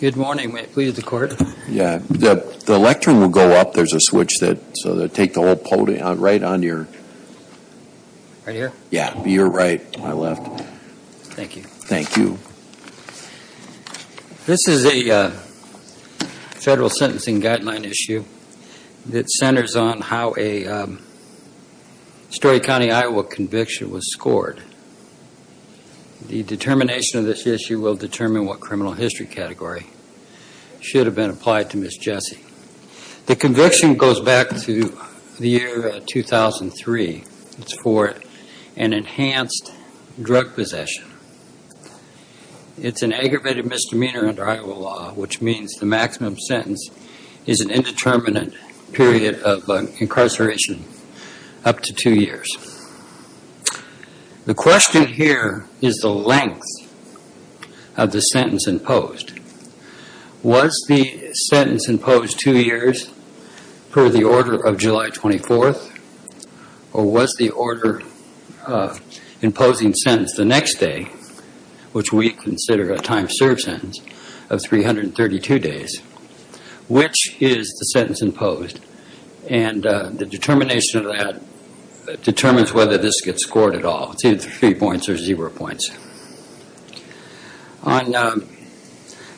Good morning. May it please the court? Yeah, the lectern will go up. There's a switch that, so they'll take the whole podium, right on your... Right here? Yeah, to your right, to my left. Thank you. Thank you. This is a federal sentencing guideline issue that centers on how a Story County, Iowa conviction was scored. The determination of this issue will determine what criminal history category should have been applied to Ms. Jesse. The conviction goes back to the year 2003. It's for an enhanced drug possession. It's an aggravated misdemeanor under Iowa law, which means the maximum sentence is an indeterminate period of incarceration up to two years. The question here is the length of the sentence imposed. Was the sentence imposed two years per the order of July 24th? Or was the order of imposing sentence the next day, which we consider a time served sentence of 332 days? Which is the sentence imposed? And the determination of that determines whether this gets scored at all. It's either three points or zero points. On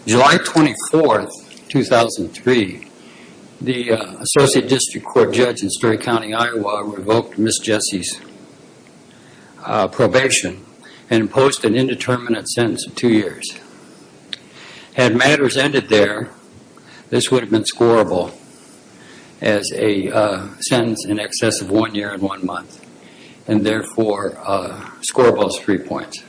July 24th, 2003, the associate district court judge in Story County, Iowa revoked Ms. Jesse's probation and imposed an indeterminate sentence of two years. Had matters ended there, this would have been scoreable as a sentence in excess of one year and one month. And therefore, scoreable as three points.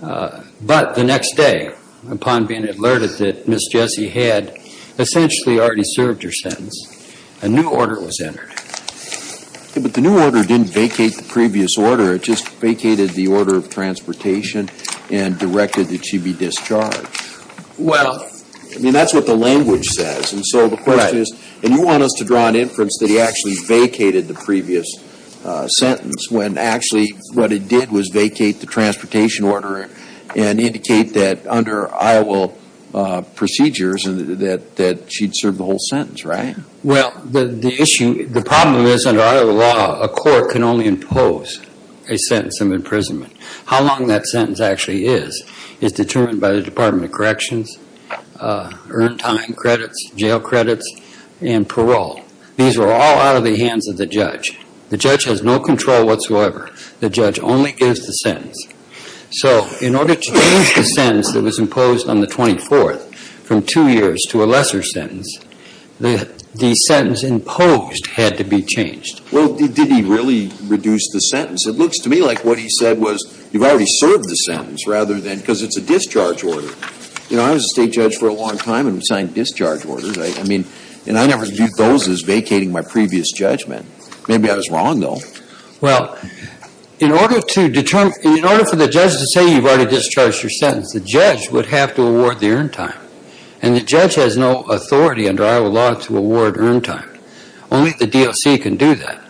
But the next day, upon being alerted that Ms. Jesse had essentially already served her sentence, a new order was entered. But the new order didn't vacate the previous order. It just vacated the order of transportation and directed that she be discharged. I mean, that's what the language says. And so the question is, and you want us to draw an inference that he actually vacated the previous sentence, when actually what it did was vacate the transportation order and indicate that under Iowa procedures that she'd served the whole sentence, right? Well, the issue, the problem is under Iowa law, a court can only impose a sentence of imprisonment. How long that sentence actually is is determined by the Department of Corrections, earned time credits, jail credits, and parole. These are all out of the hands of the judge. The judge has no control whatsoever. The judge only gives the sentence. So in order to change the sentence that was imposed on the 24th from two years to a lesser sentence, the sentence imposed had to be changed. Well, did he really reduce the sentence? It looks to me like what he said was you've already served the sentence rather than, because it's a discharge order. You know, I was a state judge for a long time and signed discharge orders. I mean, and I never viewed those as vacating my previous judgment. Maybe I was wrong, though. Well, in order to determine, in order for the judge to say you've already discharged your sentence, the judge would have to award the earned time. And the judge has no authority under Iowa law to award earned time. Only the DOC can do that.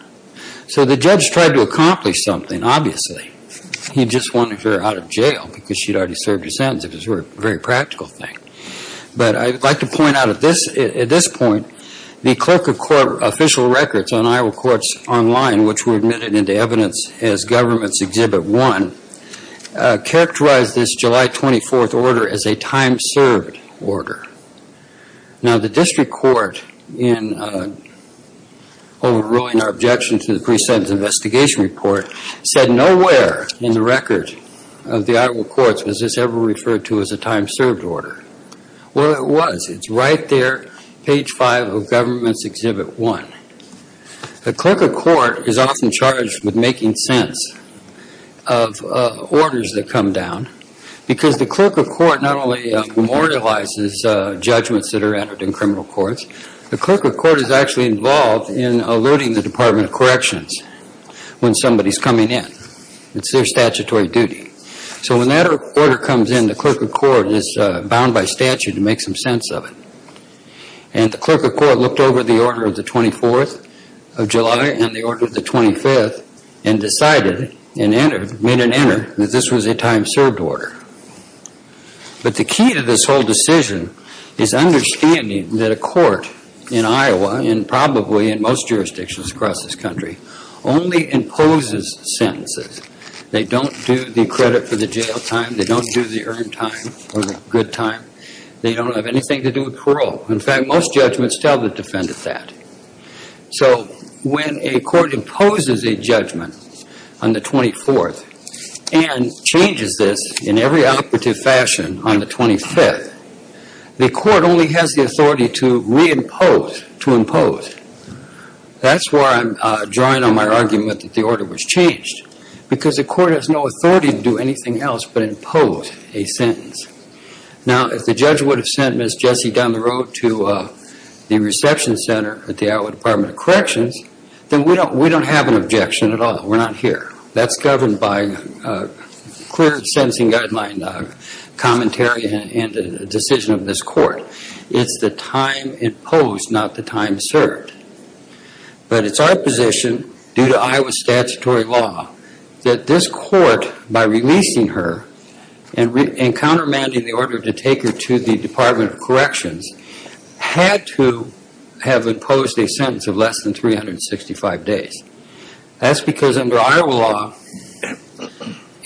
So the judge tried to accomplish something, obviously. He just wanted her out of jail because she'd already served her sentence. It was a very practical thing. But I'd like to point out at this point, the clerk of court official records on Iowa Courts Online, which were admitted into evidence as Government's Exhibit 1, characterized this July 24th order as a time-served order. Now, the district court, in overruling our objection to the pre-sentence investigation report, said nowhere in the record of the Iowa Courts was this ever referred to as a time-served order. Well, it was. It's right there, page 5 of Government's Exhibit 1. The clerk of court is often charged with making sense of orders that come down because the clerk of court not only memorializes judgments that are entered in criminal courts, the clerk of court is actually involved in alerting the Department of Corrections when somebody's coming in. It's their statutory duty. So when that order comes in, the clerk of court is bound by statute to make some sense of it. And the clerk of court looked over the order of the 24th of July and the order of the 25th and decided and made an error that this was a time-served order. But the key to this whole decision is understanding that a court in Iowa and probably in most jurisdictions across this country only imposes sentences. They don't do the credit for the jail time. They don't do the earned time or the good time. They don't have anything to do with parole. In fact, most judgments tell the defendant that. So when a court imposes a judgment on the 24th and changes this in every operative fashion on the 25th, the court only has the authority to reimpose, to impose. That's where I'm drawing on my argument that the order was changed because the court has no authority to do anything else but impose a sentence. Now, if the judge would have sent Ms. Jessie down the road to the reception center at the Iowa Department of Corrections, then we don't have an objection at all. We're not here. That's governed by clear sentencing guideline commentary and a decision of this court. It's the time imposed, not the time served. But it's our position, due to Iowa statutory law, that this court, by releasing her and countermanding the order to take her to the Department of Corrections, had to have imposed a sentence of less than 365 days. That's because under Iowa law,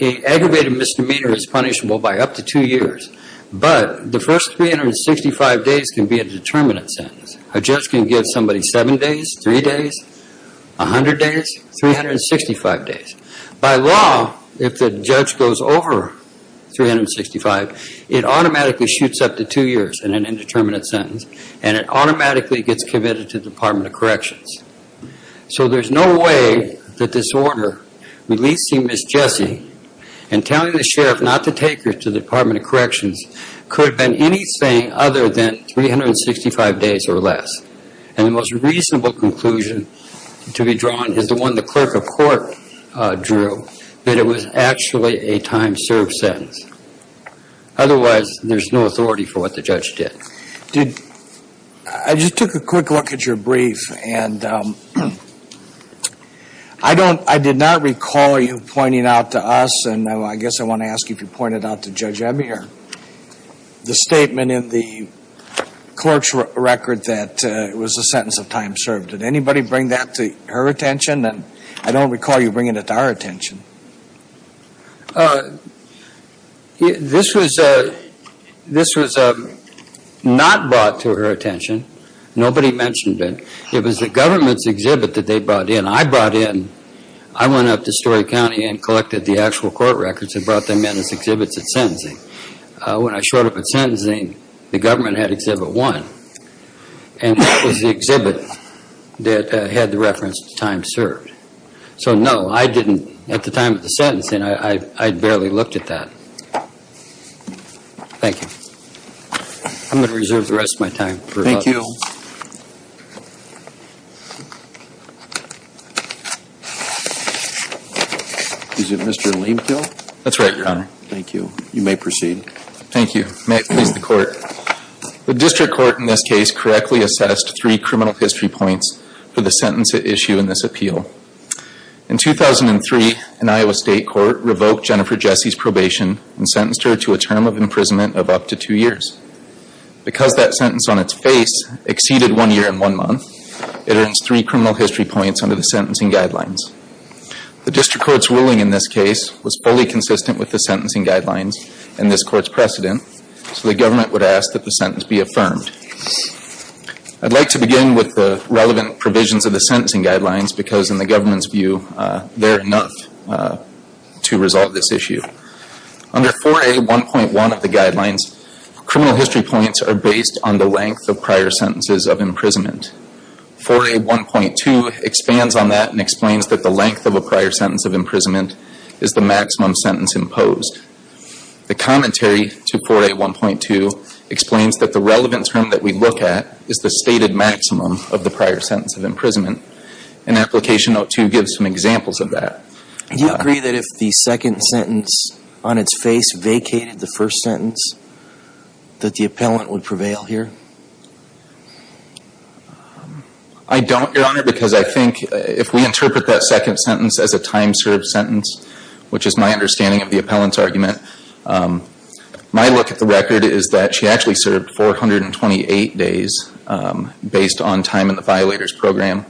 an aggravated misdemeanor is punishable by up to two years. But the first 365 days can be a determinate sentence. A judge can give somebody seven days, three days, 100 days, 365 days. By law, if the judge goes over 365, it automatically shoots up to two years in an indeterminate sentence, and it automatically gets committed to the Department of Corrections. So there's no way that this order releasing Ms. Jessie and telling the sheriff not to take her to the Department of Corrections could have been anything other than 365 days or less. And the most reasonable conclusion to be drawn is the one the clerk of court drew, that it was actually a time served sentence. Otherwise, there's no authority for what the judge did. I just took a quick look at your brief, and I did not recall you pointing out to us, and I guess I want to ask you if you pointed out to Judge Ebby the statement in the clerk's record that it was a sentence of time served. Did anybody bring that to her attention? I don't recall you bringing it to our attention. This was not brought to her attention. Nobody mentioned it. It was the government's exhibit that they brought in. When I brought in, I went up to Story County and collected the actual court records and brought them in as exhibits at sentencing. When I showed up at sentencing, the government had exhibit one, and that was the exhibit that had the reference to time served. So, no, at the time of the sentencing, I barely looked at that. Thank you. I'm going to reserve the rest of my time. Thank you. Is it Mr. Lamekill? That's right, Your Honor. Thank you. You may proceed. Thank you. May it please the Court. The district court in this case correctly assessed three criminal history points for the sentence at issue in this appeal. In 2003, an Iowa state court revoked Jennifer Jesse's probation and sentenced her to a term of imprisonment of up to two years. Because that sentence on its face exceeded one year and one month, it earns three criminal history points under the sentencing guidelines. The district court's ruling in this case was fully consistent with the sentencing guidelines and this court's precedent, so the government would ask that the sentence be affirmed. I'd like to begin with the relevant provisions of the sentencing guidelines because, in the government's view, they're enough to resolve this issue. Under 4A.1.1 of the guidelines, criminal history points are based on the length of prior sentences of imprisonment. 4A.1.2 expands on that and explains that the length of a prior sentence of imprisonment is the maximum sentence imposed. The commentary to 4A.1.2 explains that the relevant term that we look at is the stated maximum of the prior sentence of imprisonment. And Application Note 2 gives some examples of that. Do you agree that if the second sentence on its face vacated the first sentence, that the appellant would prevail here? I don't, Your Honor, because I think if we interpret that second sentence as a time-served sentence, My look at the record is that she actually served 428 days based on time in the violators program,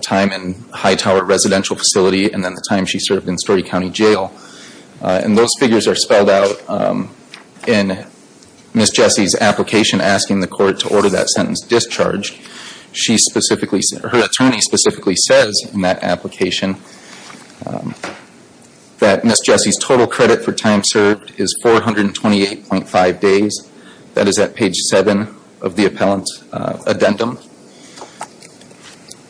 time in Hightower Residential Facility, and then the time she served in Story County Jail. And those figures are spelled out in Ms. Jessie's application asking the court to order that sentence discharged. Her attorney specifically says in that application that Ms. Jessie's total credit for time served is 428.5 days. That is at page 7 of the appellant's addendum.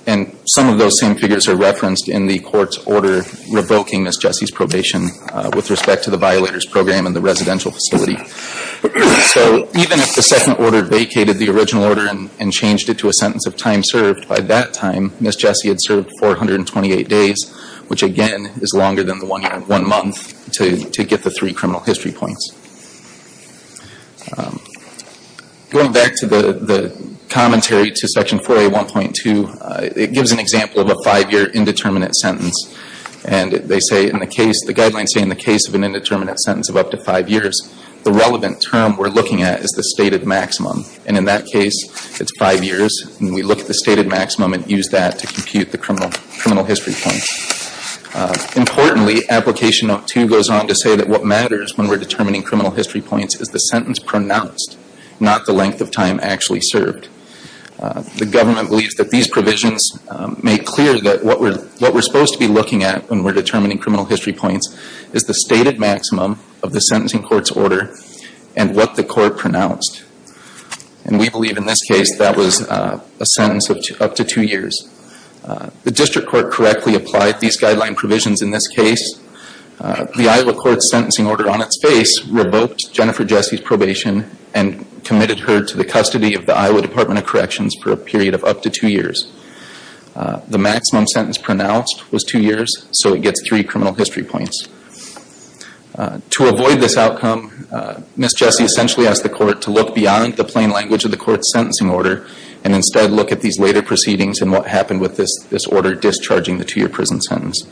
And some of those same figures are referenced in the court's order revoking Ms. Jessie's probation with respect to the violators program and the residential facility. So even if the second order vacated the original order and changed it to a sentence of time served, by that time Ms. Jessie had served 428 days, which again is longer than the one month to get the three criminal history points. Going back to the commentary to Section 4A.1.2, it gives an example of a five-year indeterminate sentence. And they say in the case, the guidelines say in the case of an indeterminate sentence of up to five years, the relevant term we're looking at is the stated maximum. And in that case, it's five years. And we look at the stated maximum and use that to compute the criminal history points. Importantly, Application No. 2 goes on to say that what matters when we're determining criminal history points is the sentence pronounced, not the length of time actually served. The government believes that these provisions make clear that what we're supposed to be looking at when we're determining criminal history points is the stated maximum of the sentencing court's order and what the court pronounced. And we believe in this case that was a sentence of up to two years. The district court correctly applied these guideline provisions in this case. The Iowa court's sentencing order on its face revoked Jennifer Jessie's probation and committed her to the custody of the Iowa Department of Corrections for a period of up to two years. The maximum sentence pronounced was two years, so it gets three criminal history points. To avoid this outcome, Ms. Jessie essentially asked the court to look beyond the plain language of the court's sentencing order and instead look at these later proceedings and what happened with this order discharging the two-year prison sentence.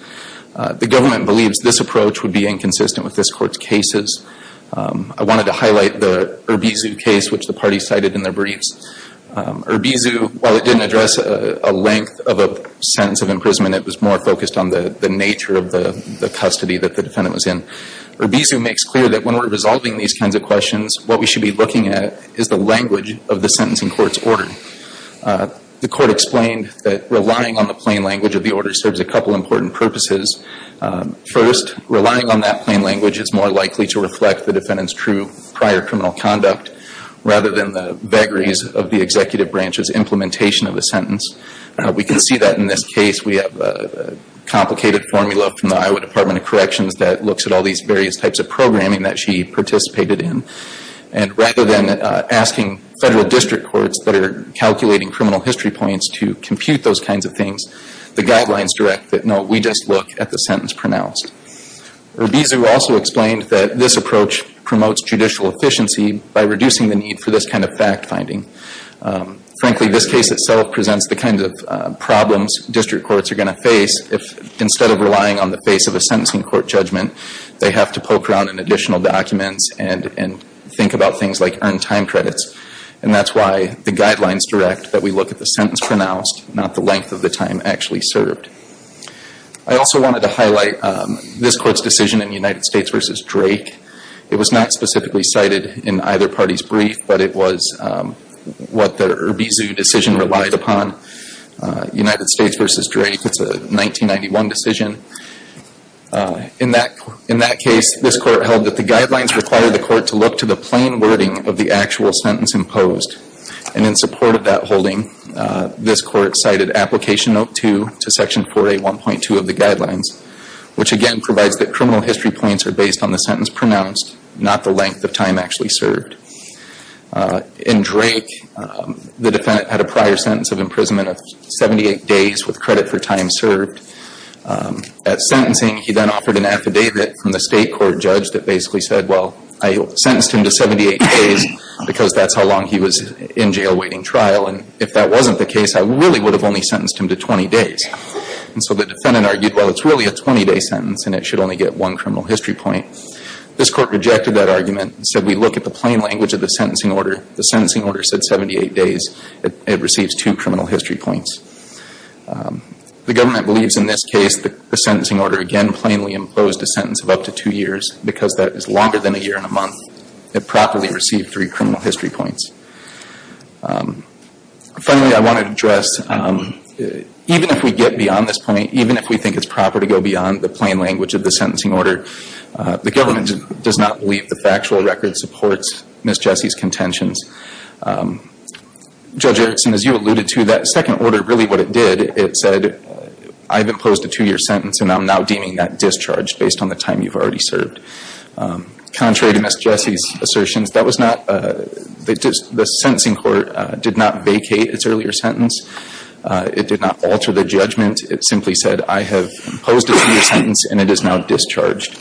The government believes this approach would be inconsistent with this court's cases. I wanted to highlight the Urbizu case, which the party cited in their briefs. Urbizu, while it didn't address a length of a sentence of imprisonment, it was more focused on the nature of the custody that the defendant was in. Urbizu makes clear that when we're resolving these kinds of questions, what we should be looking at is the language of the sentencing court's order. The court explained that relying on the plain language of the order serves a couple important purposes. First, relying on that plain language is more likely to reflect the defendant's true prior criminal conduct rather than the vagaries of the executive branch's implementation of the sentence. We can see that in this case. We have a complicated formula from the Iowa Department of Corrections that looks at all these various types of programming that she participated in. Rather than asking federal district courts that are calculating criminal history points to compute those kinds of things, the guidelines direct that, no, we just look at the sentence pronounced. Urbizu also explained that this approach promotes judicial efficiency by reducing the need for this kind of fact-finding. Frankly, this case itself presents the kinds of problems district courts are going to face if instead of relying on the face of a sentencing court judgment, they have to poke around in additional documents and think about things like earned time credits. And that's why the guidelines direct that we look at the sentence pronounced, not the length of the time actually served. I also wanted to highlight this court's decision in United States v. Drake. It was not specifically cited in either party's brief, but it was what the Urbizu decision relied upon. United States v. Drake, it's a 1991 decision. In that case, this court held that the guidelines required the court to look to the plain wording of the actual sentence imposed. And in support of that holding, this court cited Application Note 2 to Section 4A.1.2 of the guidelines, which again provides that criminal history points are based on the sentence pronounced, not the length of time actually served. In Drake, the defendant had a prior sentence of imprisonment of 78 days with credit for time served. At sentencing, he then offered an affidavit from the state court judge that basically said, well, I sentenced him to 78 days because that's how long he was in jail waiting trial. And if that wasn't the case, I really would have only sentenced him to 20 days. And so the defendant argued, well, it's really a 20-day sentence, and it should only get one criminal history point. This court rejected that argument and said we look at the plain language of the sentencing order. The sentencing order said 78 days. It receives two criminal history points. The government believes in this case the sentencing order again plainly imposed a sentence of up to two years because that is longer than a year and a month. It properly received three criminal history points. Finally, I want to address even if we get beyond this point, even if we think it's proper to go beyond the plain language of the sentencing order, the government does not believe the factual record supports Ms. Jessie's contentions. Judge Erickson, as you alluded to, that second order, really what it did, it said I've imposed a two-year sentence, and I'm now deeming that discharge based on the time you've already served. Contrary to Ms. Jessie's assertions, that was not, the sentencing court did not vacate its earlier sentence. It did not alter the judgment. It simply said I have imposed a two-year sentence, and it is now discharged.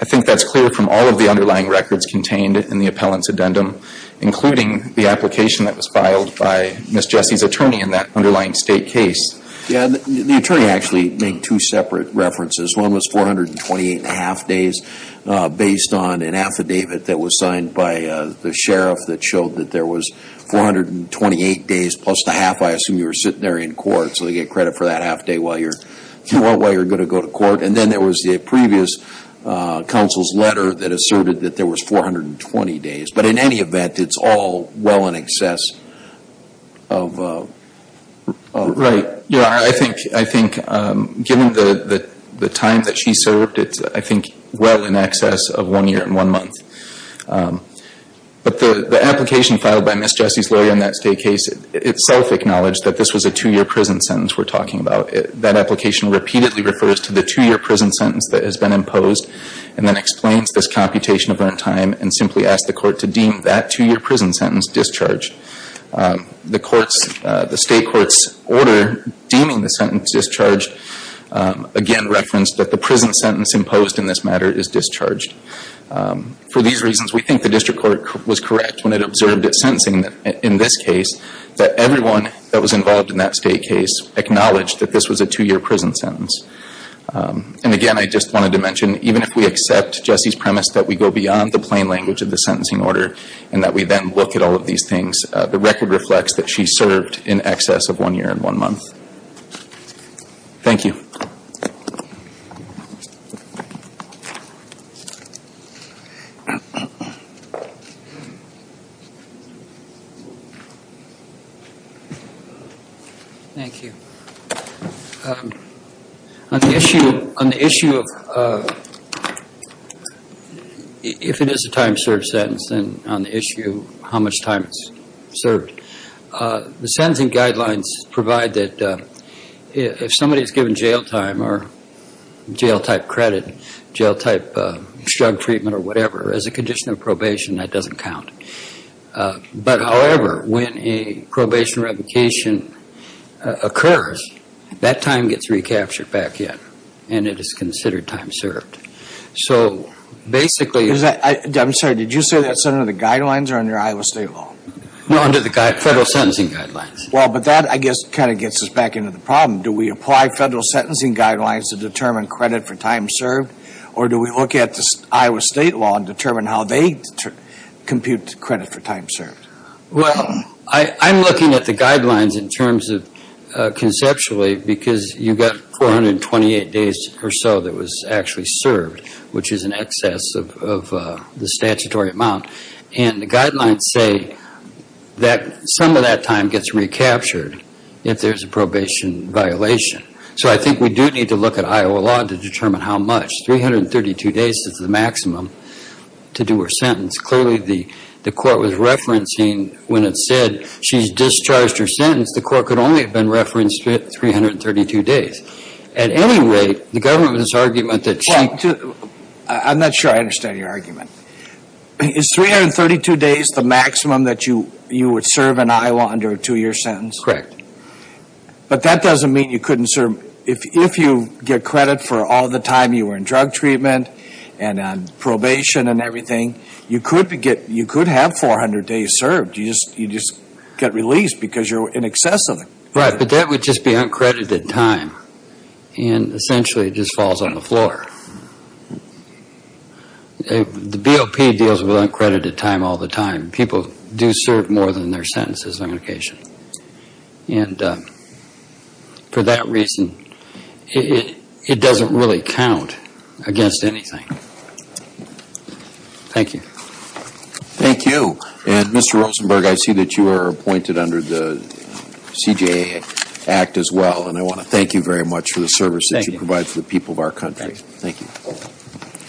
I think that's clear from all of the underlying records contained in the appellant's addendum, including the application that was filed by Ms. Jessie's attorney in that underlying state case. Yeah, the attorney actually made two separate references. One was 428 and a half days based on an affidavit that was signed by the sheriff that showed that there was 428 days plus the half I assume you were sitting there in court, so they get credit for that half day while you're going to go to court. And then there was the previous counsel's letter that asserted that there was 420 days. But in any event, it's all well in excess of. Right. I think given the time that she served, it's I think well in excess of one year and one month. But the application filed by Ms. Jessie's lawyer in that state case itself acknowledged that this was a two-year prison sentence we're talking about. That application repeatedly refers to the two-year prison sentence that has been imposed and then explains this computation of runtime and simply asks the court to deem that two-year prison sentence discharged. The state court's order deeming the sentence discharged again referenced that the prison sentence imposed in this matter is discharged. For these reasons, we think the district court was correct when it observed its sentencing in this case that everyone that was involved in that state case acknowledged that this was a two-year prison sentence. And again, I just wanted to mention, even if we accept Jessie's premise that we go beyond the plain language of the sentencing order and that we then look at all of these things, the record reflects that she served in excess of one year and one month. Thank you. Thank you. Thank you. On the issue of if it is a time-served sentence, then on the issue of how much time it's served, the sentencing guidelines provide that if somebody is given jail time or jail-type credit, jail-type drug treatment or whatever, as a condition of probation, that doesn't count. But however, when a probation revocation occurs, that time gets recaptured back in and it is considered time-served. So basically... I'm sorry. Did you say that's under the guidelines or under Iowa State law? No, under the federal sentencing guidelines. Well, but that, I guess, kind of gets us back into the problem. Do we apply federal sentencing guidelines to determine credit for time served or do we look at the Iowa State law and determine how they compute credit for time served? Well, I'm looking at the guidelines in terms of conceptually because you've got 428 days or so that was actually served, which is in excess of the statutory amount. And the guidelines say that some of that time gets recaptured if there's a probation violation. So I think we do need to look at Iowa law to determine how much. 332 days is the maximum to do a sentence. Clearly, the court was referencing when it said she's discharged her sentence, the court could only have been referenced with 332 days. At any rate, the government's argument that she... Well, I'm not sure I understand your argument. Is 332 days the maximum that you would serve in Iowa under a two-year sentence? Correct. But that doesn't mean you couldn't serve... If you get credit for all the time you were in drug treatment and on probation and everything, you could have 400 days served. You just get released because you're in excess of it. Right, but that would just be uncredited time. And essentially, it just falls on the floor. The BOP deals with uncredited time all the time. People do serve more than their sentences on occasion. And for that reason, it doesn't really count against anything. Thank you. Thank you. And, Mr. Rosenberg, I see that you are appointed under the CJA Act as well, and I want to thank you very much for the service that you provide for the people of our country. Thank you.